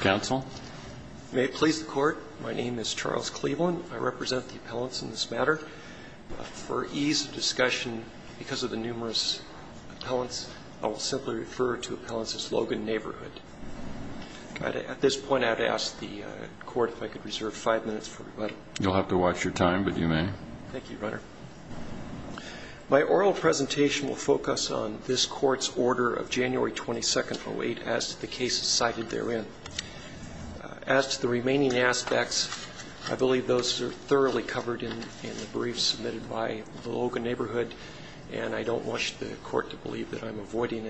Counsel. May it please the court. My name is Charles Cleveland. I represent the appellants in this matter. For ease of discussion, because of the numerous appellants, I will simply refer to appellants as Logan neighborhood. At this point I'd ask the court if I could reserve five minutes for rebuttal. You'll have to watch your time, but you may. Thank you, Your Honor. My oral presentation will be in this court's order of January 22nd, 08, as to the cases cited therein. As to the remaining aspects, I believe those are thoroughly covered in the briefs submitted by the Logan neighborhood, and I don't want the court to believe that I'm avoiding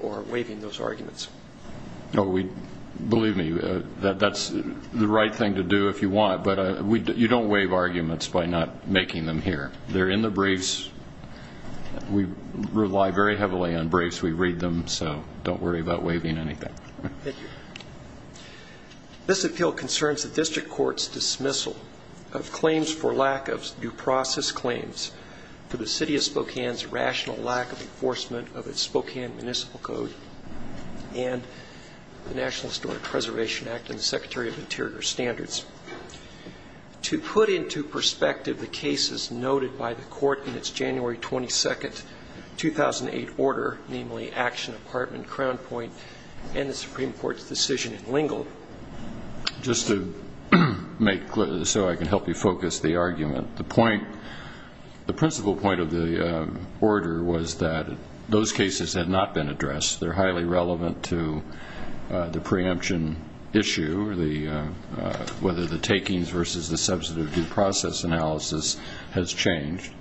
or waiving those arguments. Believe me, that's the right thing to do if you want, but you don't waive arguments by not making them clear. They're in the briefs. We rely very heavily on briefs. We read them, so don't worry about waiving anything. Thank you. This appeal concerns the district court's dismissal of claims for lack of due process claims for the city of Spokane's rational lack of enforcement of its Spokane Municipal Code and the National Historic Preservation Act and the Secretary of Interior Standards. To put into perspective the cases noted by the court in its January 22nd, 2008 order, namely Action Apartment, Crown Point, and the Supreme Court's decision in Lingle. Just to make clear, so I can help you focus the argument, the point, the principal point of the order was that those cases had not been addressed. They're highly relevant to the preemption issue, whether the takings versus the substantive due process analysis has changed.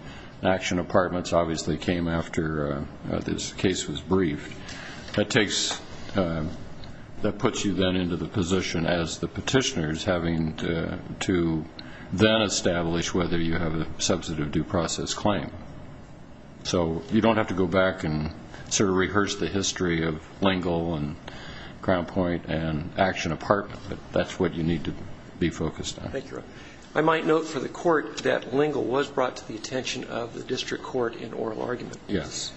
Action Apartments obviously came after this case was briefed. That takes, that puts you then into the position as the petitioners having to then establish whether you have a substantive due process claim. So you don't have to go back and sort of rehearse the history of Lingle and Crown Point and Action Apartment, but that's what you need to be focused on. Thank you, Your Honor. I might note for the court that Lingle was brought to the attention of the district court in oral argument. Yes.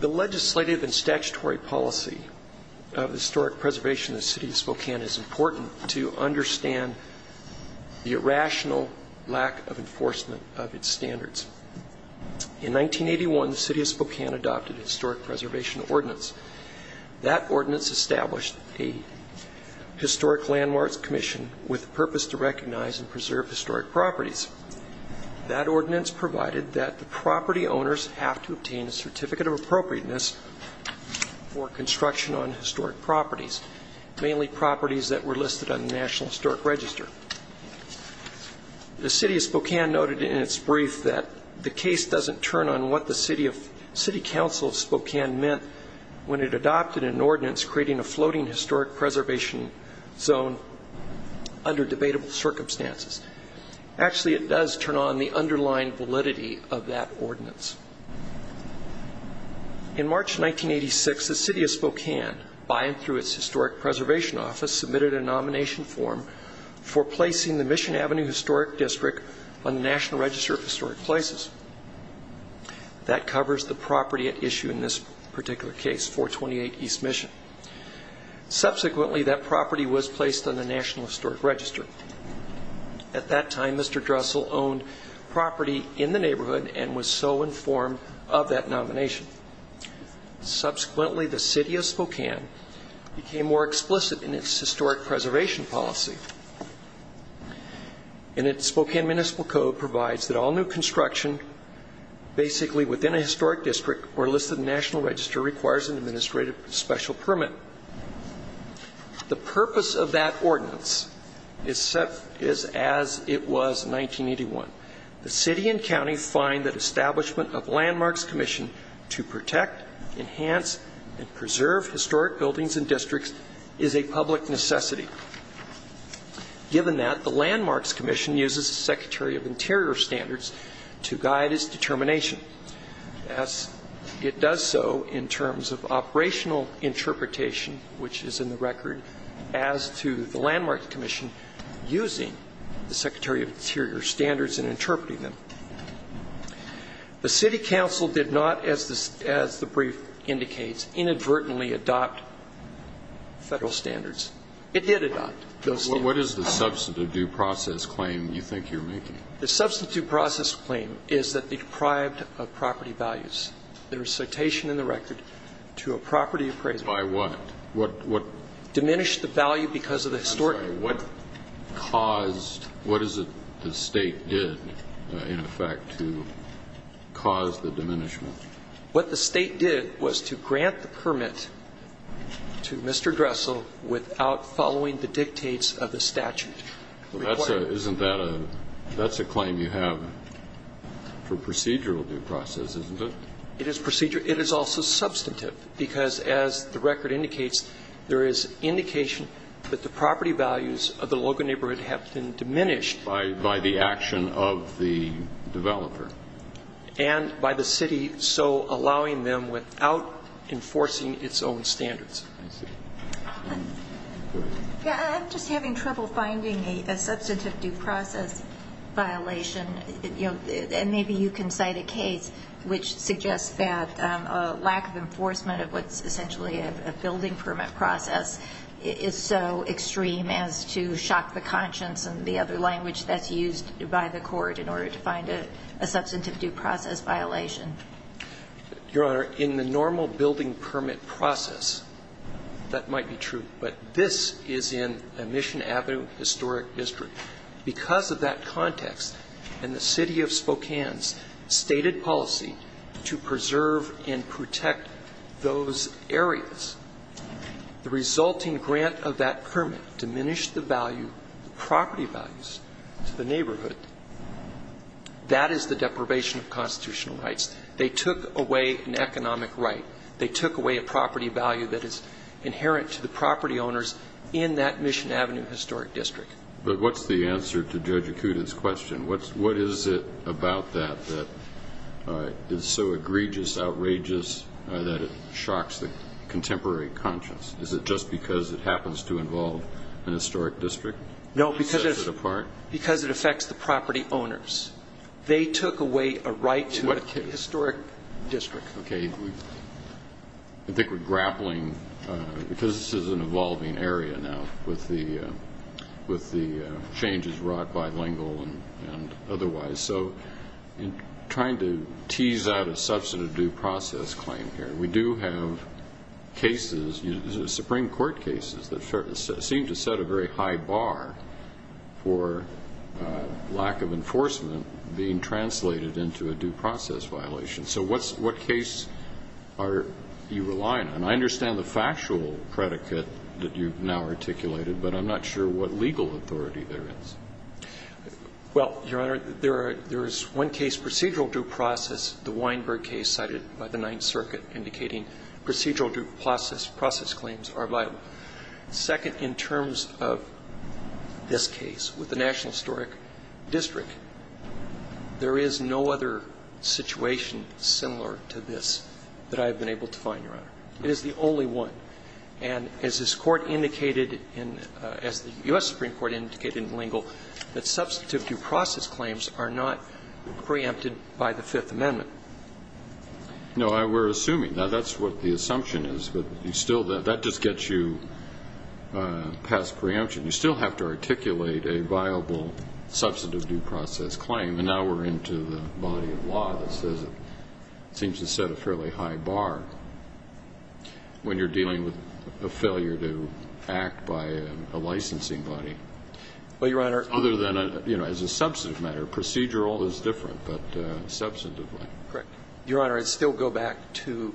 The legislative and statutory policy of historic preservation in the city of Spokane is important to understand the irrational lack of enforcement of its standards. In 1981, the city of Spokane adopted a historic preservation ordinance. That ordinance established a historic landmarks commission with purpose to recognize and preserve historic properties. That ordinance provided that the property owners have to obtain a certificate of appropriateness for construction on historic properties, mainly properties that were listed on the National Historic Register. The city of Spokane noted in its brief that the case doesn't turn on what the city of, city council of Spokane meant when it adopted an ordinance creating a floating historic preservation zone under debatable circumstances. Actually, it does turn on the underlying validity of that ordinance. In March 1986, the city of Spokane, by and through its historic preservation office, submitted a nomination form for placing the Mission Avenue Historic District on the National Register of Historic Places. That covers the property at issue in this particular case, 428 East Mission. Subsequently, that property was placed on the National Historic Register. At that time, Mr. Dressel owned property in the neighborhood and was so informed of that nomination. Subsequently, the city of Spokane became more explicit in its historic preservation policy. And its Spokane Municipal Code provides that all new construction basically within a historic district or listed on the National Register requires an administrative special permit. The purpose of that ordinance is set as it was in 1981. The city and county find that establishment of Landmarks Commission to protect, enhance, and preserve historic buildings and districts is a public necessity. Given that, the Landmarks Commission uses the Secretary of Interior Standards to guide its determination, as it does so in terms of operational interpretation, which is in the record, as to the Landmarks Commission using the Secretary of Interior Standards in interpreting them. The city council did not, as the brief indicates, inadvertently What is the substantive due process claim you think you're making? The substantive due process claim is that it deprived of property values. There is citation in the record to a property appraisal. By what? What, what? Diminished the value because of the historic. I'm sorry. What caused, what is it the State did, in effect, to cause the diminishment? What the State did was to grant the permit to Mr. Dressel without following the dictates of the statute. That's a, isn't that a, that's a claim you have for procedural due process, isn't it? It is procedural. It is also substantive because, as the record indicates, there is indication that the property values of the Logan neighborhood have been diminished. By, by the action of the developer. And by the city so allowing them without enforcing its own standards. I see. Yeah, I'm just having trouble finding a substantive due process violation. You know, and maybe you can cite a case which suggests that a lack of enforcement of what's essentially a building permit process is so extreme as to shock the conscience and the other language that's used by the court in order to find a substantive due process violation. Your Honor, in the normal building permit process, that might be true, but this is in a Mission Avenue historic district. Because of that context and the City of Spokane's stated policy to preserve and protect those areas, the resulting grant of that permit diminished the value, the property values to the neighborhood. That is the deprivation of constitutional rights. They took away an economic right. They took away a property value that is inherent to the property owners in that Mission Avenue historic district. But what's the answer to Judge Acuda's question? What is it about that that is so egregious, outrageous, that it shocks the contemporary conscience? Is it just because it happens to involve an historic district? No, because it's... It sets it apart? ...from the property owners. They took away a right to a historic district. Okay, I think we're grappling, because this is an evolving area now with the changes wrought bilingual and otherwise, so in trying to tease out a substantive due process claim here, we do have cases, Supreme Court cases, that seem to set a very high bar for lack of enforcement being translated into a due process violation. So what case are you relying on? I understand the factual predicate that you've now articulated, but I'm not sure what legal authority there is. Well, Your Honor, there is one case, procedural due process, the Weinberg case cited by the Ninth Circuit, indicating procedural due process claims are viable. Second, in terms of this case with the National Historic District, there is no other situation similar to this that I have been able to find, Your Honor. It is the only one. And as this Court indicated in the US Supreme Court indicated in L'Engle, that substantive due process claims are not preempted by the Fifth Amendment. No, we're assuming. Now, that's what the assumption is, but that just gets you past preemption. You still have to articulate a viable substantive due process claim. And now we're into the body of law that seems to set a fairly high bar when you're dealing with a failure to act by a licensing body. Well, Your Honor, other than as a substantive matter, procedural is different, but substantively. Correct. Your Honor, I'd still go back to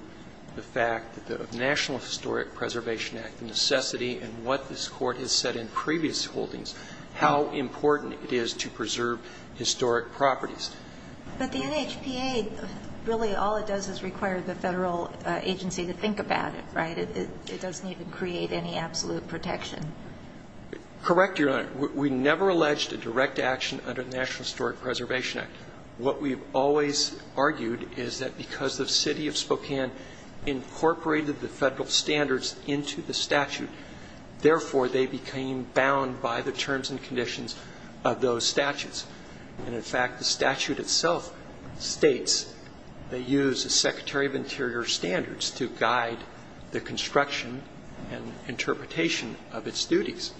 the fact that the National Historic Preservation Act, the necessity and what this Court has said in previous holdings, how important it is to preserve historic properties. But the NHPA, really all it does is require the Federal agency to think about it, right? It doesn't even create any absolute protection. Correct, Your Honor. We never alleged a direct action under the National Historic Preservation Act. What we've always argued is that because the City of Spokane incorporated the Federal standards into the statute, therefore, they became bound by the terms and conditions of those statutes. And, in fact, the statute itself states they use the Secretary of Interior's standards to guide the construction and interpretation of its duties.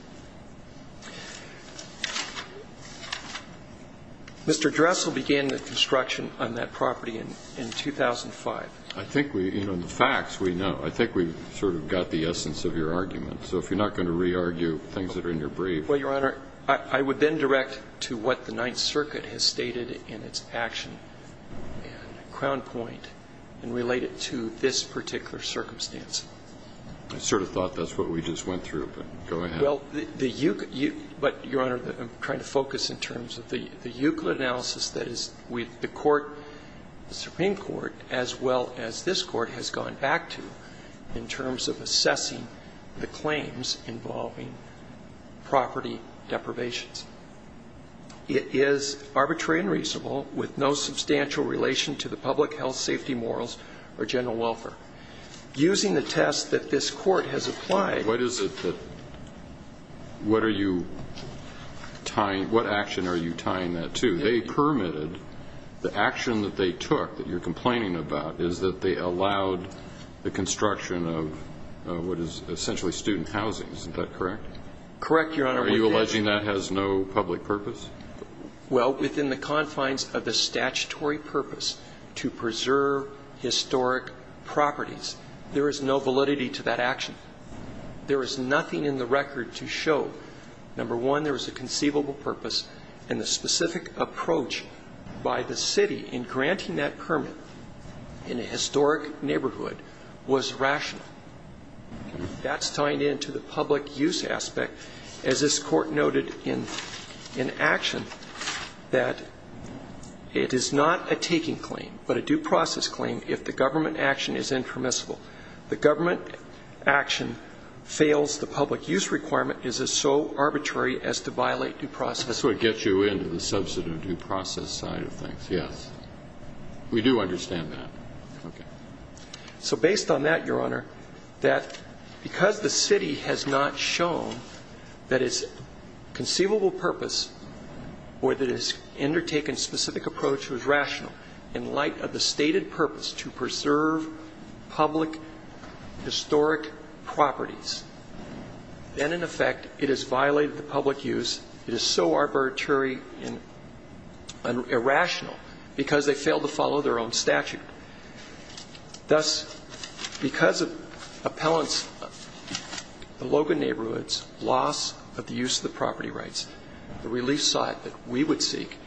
Mr. Dressel began the construction on that property in 2005. I think we, you know, the facts we know. I think we've sort of got the essence of your argument. So if you're not going to re-argue things that are in your brief. Well, Your Honor, I would then direct to what the Ninth Circuit has stated in its action and crown point and relate it to this particular circumstance. I sort of thought that's what we just went through, but go ahead. Well, the Euclid, but, Your Honor, I'm trying to focus in terms of the Euclid analysis that is with the court, the Supreme Court, as well as this Court has gone back to in terms of assessing the claims involving property deprivations. It is arbitrary and reasonable with no substantial relation to the public health safety morals or general welfare. Using the test that this Court has applied. What is it that, what are you tying, what action are you tying that to? They permitted, the action that they took that you're complaining about is that they allowed the construction of what is essentially student housing. Isn't that correct? Correct, Your Honor. Are you alleging that has no public purpose? Well, within the confines of the statutory purpose to preserve historic properties, there is no validity to that action. There is nothing in the record to show, number one, there is a conceivable purpose, and the specific approach by the city in granting that permit in a historic neighborhood was rational. That's tying into the public use aspect, as this Court noted in action, that it is not a taking claim, but a due process claim if the government action is impermissible. The government action fails the public use requirement, is it so arbitrary as to violate due process? That's what gets you into the substantive due process side of things, yes. We do understand that. Okay. So based on that, Your Honor, that because the city has not shown that its conceivable purpose or that it has undertaken specific approach was rational in light of the historic properties, then, in effect, it has violated the public use, it is so arbitrary and irrational because they failed to follow their own statute. Thus, because of appellant's, the Logan neighborhood's, loss of the use of the property rights, the relief side that we would seek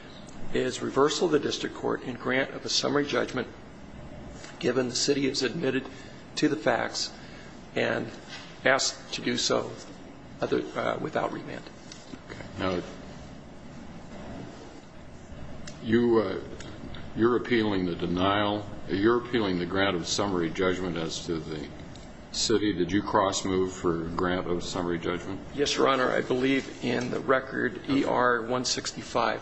is reversal of the district court and grant of a summary judgment given the city has admitted to the facts and asked to do so without remand. Okay. Now, you're appealing the denial, you're appealing the grant of summary judgment as to the city. Did you cross-move for grant of summary judgment? Yes, Your Honor. I believe in the record ER-165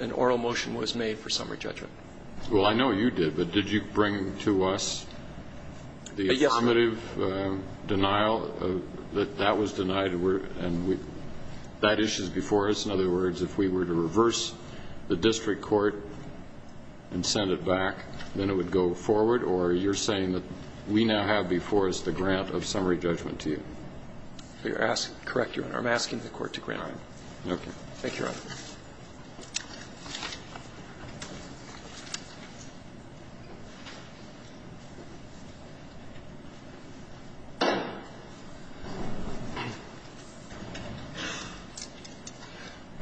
an oral motion was made for summary judgment. Well, I know you did, but did you bring to us the affirmative denial that that was denied and that issue is before us? In other words, if we were to reverse the district court and send it back, then it would go forward, or you're saying that we now have before us the grant of summary judgment to you? Correct, Your Honor. I'm asking the court to grant it. Okay. Thank you, Your Honor.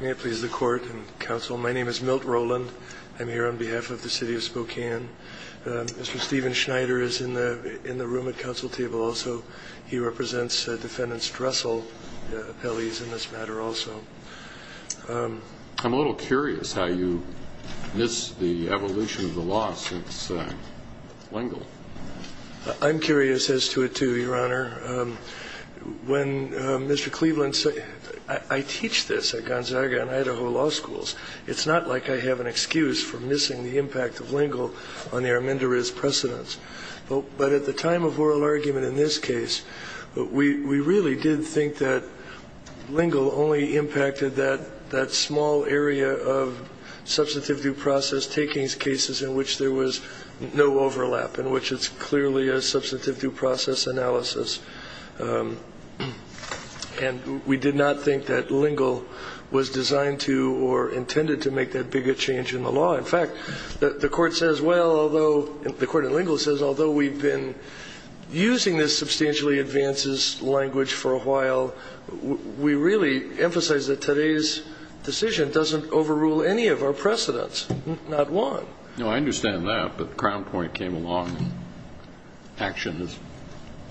May it please the Court and counsel. My name is Milt Rowland. I'm here on behalf of the City of Spokane. Mr. Stephen Schneider is in the room at counsel table also. He represents Defendant Dressel, the appellee is in this matter also. I'm a little curious how you miss the evolution of the law since Lingle. I'm curious as to it, too, Your Honor. When Mr. Cleveland said – I teach this at Gonzaga and Idaho law schools. It's not like I have an excuse for missing the impact of Lingle on the arminderiz precedents. But at the time of oral argument in this case, we really did think that Lingle only impacted that small area of substantive due process takings cases in which there was no overlap, in which it's clearly a substantive due process analysis. And we did not think that Lingle was designed to or intended to make that big a change in the law. In fact, the court says, well, although – the court in Lingle says although we've been using this substantially advances language for a while, we really emphasize that today's decision doesn't overrule any of our precedents, not one. No, I understand that. But Crown Point came along. Action is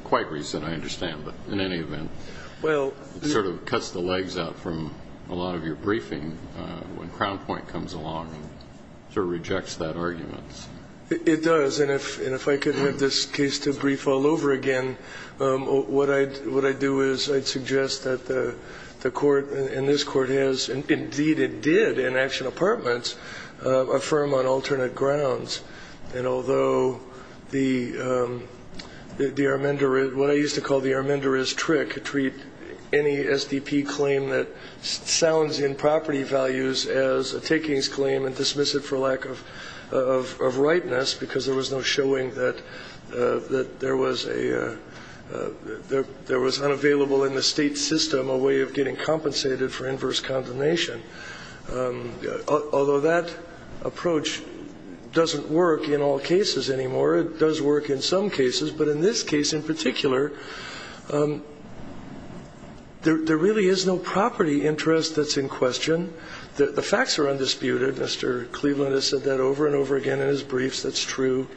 quite recent, I understand. But in any event, it sort of cuts the legs out from a lot of your briefing when Crown Point comes along and sort of rejects that argument. It does. And if I could have this case to brief all over again, what I'd do is I'd suggest that the court and this court has, and indeed it did in Action Apartments, affirm on alternate grounds. And although the arminderiz – what I used to call the arminderiz trick, treat any SDP claim that sounds in property values as a takings claim and dismiss it for lack of rightness, because there was no showing that there was a – there was unavailable in the State system a way of getting compensated for inverse condemnation, although that approach doesn't work in all cases anymore. It does work in some cases, but in this case in particular, there really is no property interest that's in question. The facts are undisputed. Mr. Cleveland has said that over and over again in his briefs. That's true.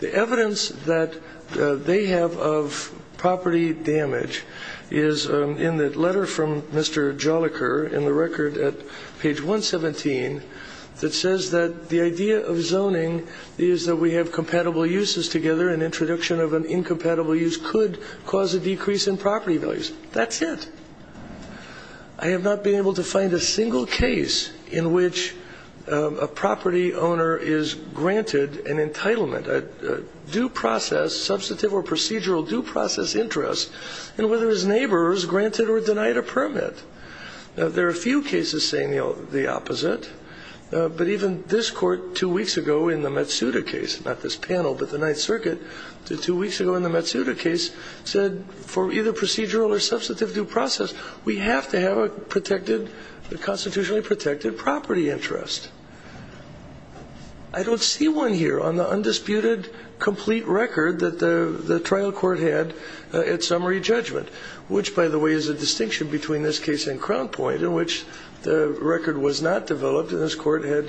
The evidence that they have of property damage is in the letter from Mr. Joliker in the record at page 117 that says that the idea of zoning is that we have compatible uses together. An introduction of an incompatible use could cause a decrease in property values. That's it. I have not been able to find a single case in which a property owner is granted an entitlement, a due process, substantive or procedural due process interest, and whether his neighbor is granted or denied a permit. There are a few cases saying the opposite, but even this court two weeks ago in the Matsuda case – not this panel, but the Ninth Circuit – two weeks ago in the Matsuda case said for either procedural or substantive due process, we have to have a protected – a constitutionally protected property interest. I don't see one here on the undisputed complete record that the trial court had at summary judgment, which, by the way, is a distinction between this case and Crown Point in which the record was not developed and this court had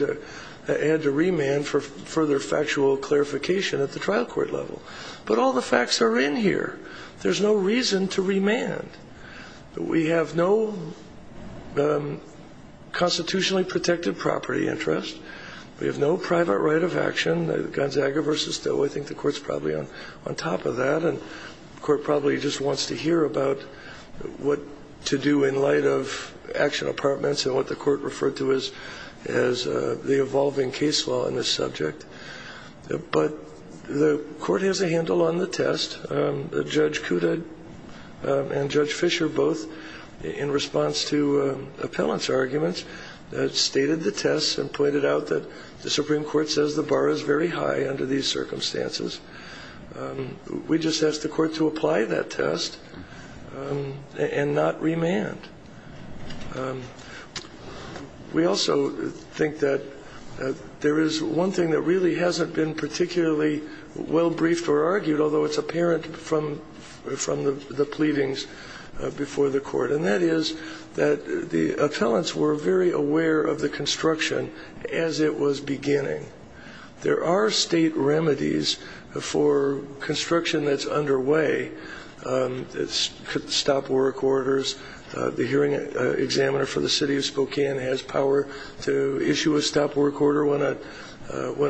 to remand for further factual clarification at the trial court level. But all the facts are in here. There's no reason to remand. We have no constitutionally protected property interest. We have no private right of action. Gonzaga v. Stowe, I think the court's probably on top of that, and the court probably just wants to hear about what to do in light of action apartments and what the court referred to as the evolving case law in this subject. But the court has a handle on the test. Judge Kuda and Judge Fischer both, in response to appellant's arguments, stated the test and pointed out that the Supreme Court says the bar is very high under these circumstances. We just ask the court to apply that test and not remand. We also think that there is one thing that really hasn't been particularly well-briefed or argued, although it's apparent from the pleadings before the court, and that is that the appellants were very aware of the construction as it was beginning. There are State remedies for construction that's underway. Stop work orders. The hearing examiner for the city of Spokane has power to issue a stop work order when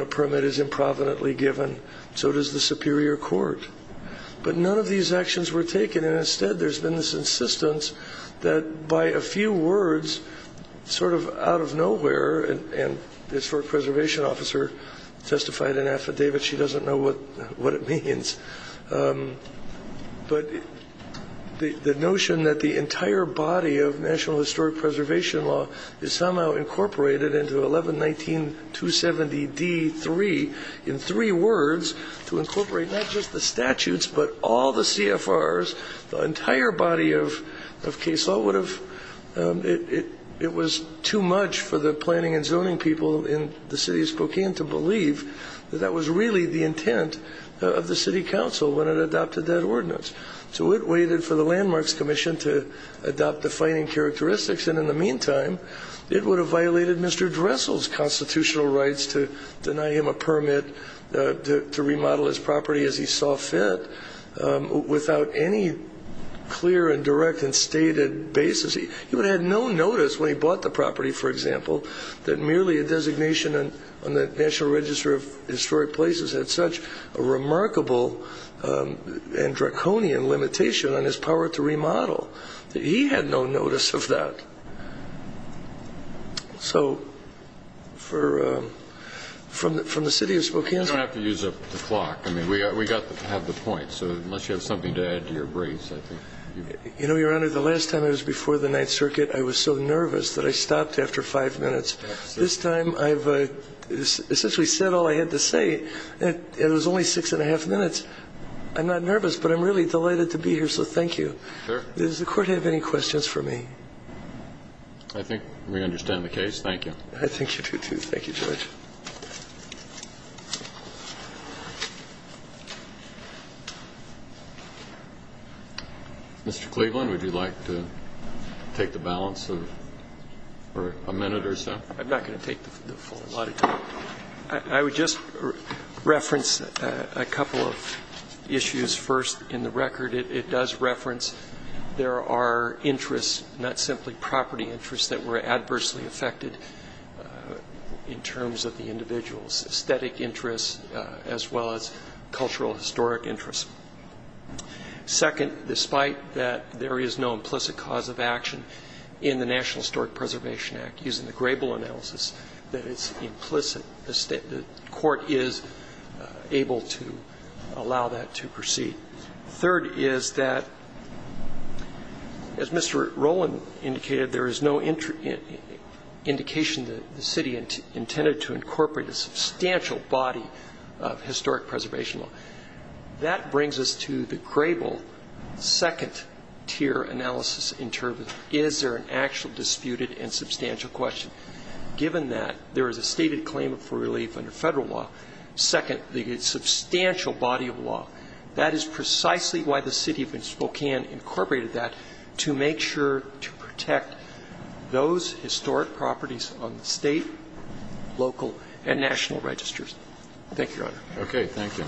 a permit is improvidently given. So does the Superior Court. But none of these actions were taken, and instead there's been this insistence that by a few words, sort of out of nowhere, and the historic preservation officer testified in affidavit. She doesn't know what it means. But the notion that the entire body of National Historic Preservation Law is somehow incorporated into 11-19-270-D-3, in three words, to incorporate not just the statutes but all the CFRs, the entire body of case law, it was too much for the planning and zoning people in the city of Spokane to believe that that was really the intent of the city council when it adopted that ordinance. So it waited for the Landmarks Commission to adopt defining characteristics, and in the meantime, it would have violated Mr. Dressel's constitutional rights to deny him a permit to remodel his property as he saw fit without any clear and direct and stated basis. He would have had no notice when he bought the property, for example, that merely a designation on the National Register of Historic Places had such a remarkable and draconian limitation on his power to remodel. He had no notice of that. So from the city of Spokane to the city of Spokane. I don't have to use up the clock. I mean, we have the points. So unless you have something to add to your briefs, I think. You know, Your Honor, the last time I was before the Ninth Circuit, I was so nervous that I stopped after five minutes. This time I've essentially said all I had to say, and it was only six and a half minutes. I'm not nervous, but I'm really delighted to be here, so thank you. Does the Court have any questions for me? I think we understand the case. I think you do, too. Thank you, Judge. Mr. Cleveland, would you like to take the balance for a minute or so? I'm not going to take the full lot of time. I would just reference a couple of issues. First, in the record, it does reference there are interests, not simply property interests, that were adversely affected in terms of the individual's aesthetic interests as well as cultural historic interests. Second, despite that there is no implicit cause of action in the National Historic Preservation Act, using the Grable analysis, that it's implicit, the Court is able to allow that to proceed. Third is that, as Mr. Rowland indicated, there is no indication that the city intended to incorporate a substantial body of historic preservation law. That brings us to the Grable second-tier analysis in terms of is there an actual disputed and substantial question. Given that there is a stated claim for relief under Federal law, second, the substantial body of law, that is precisely why the city of Spokane incorporated that, to make sure to protect those historic properties on the State, local, and national registers. Thank you, Your Honor. Okay. Thank you.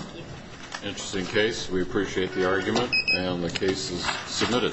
Interesting case. We appreciate the argument, and the case is submitted.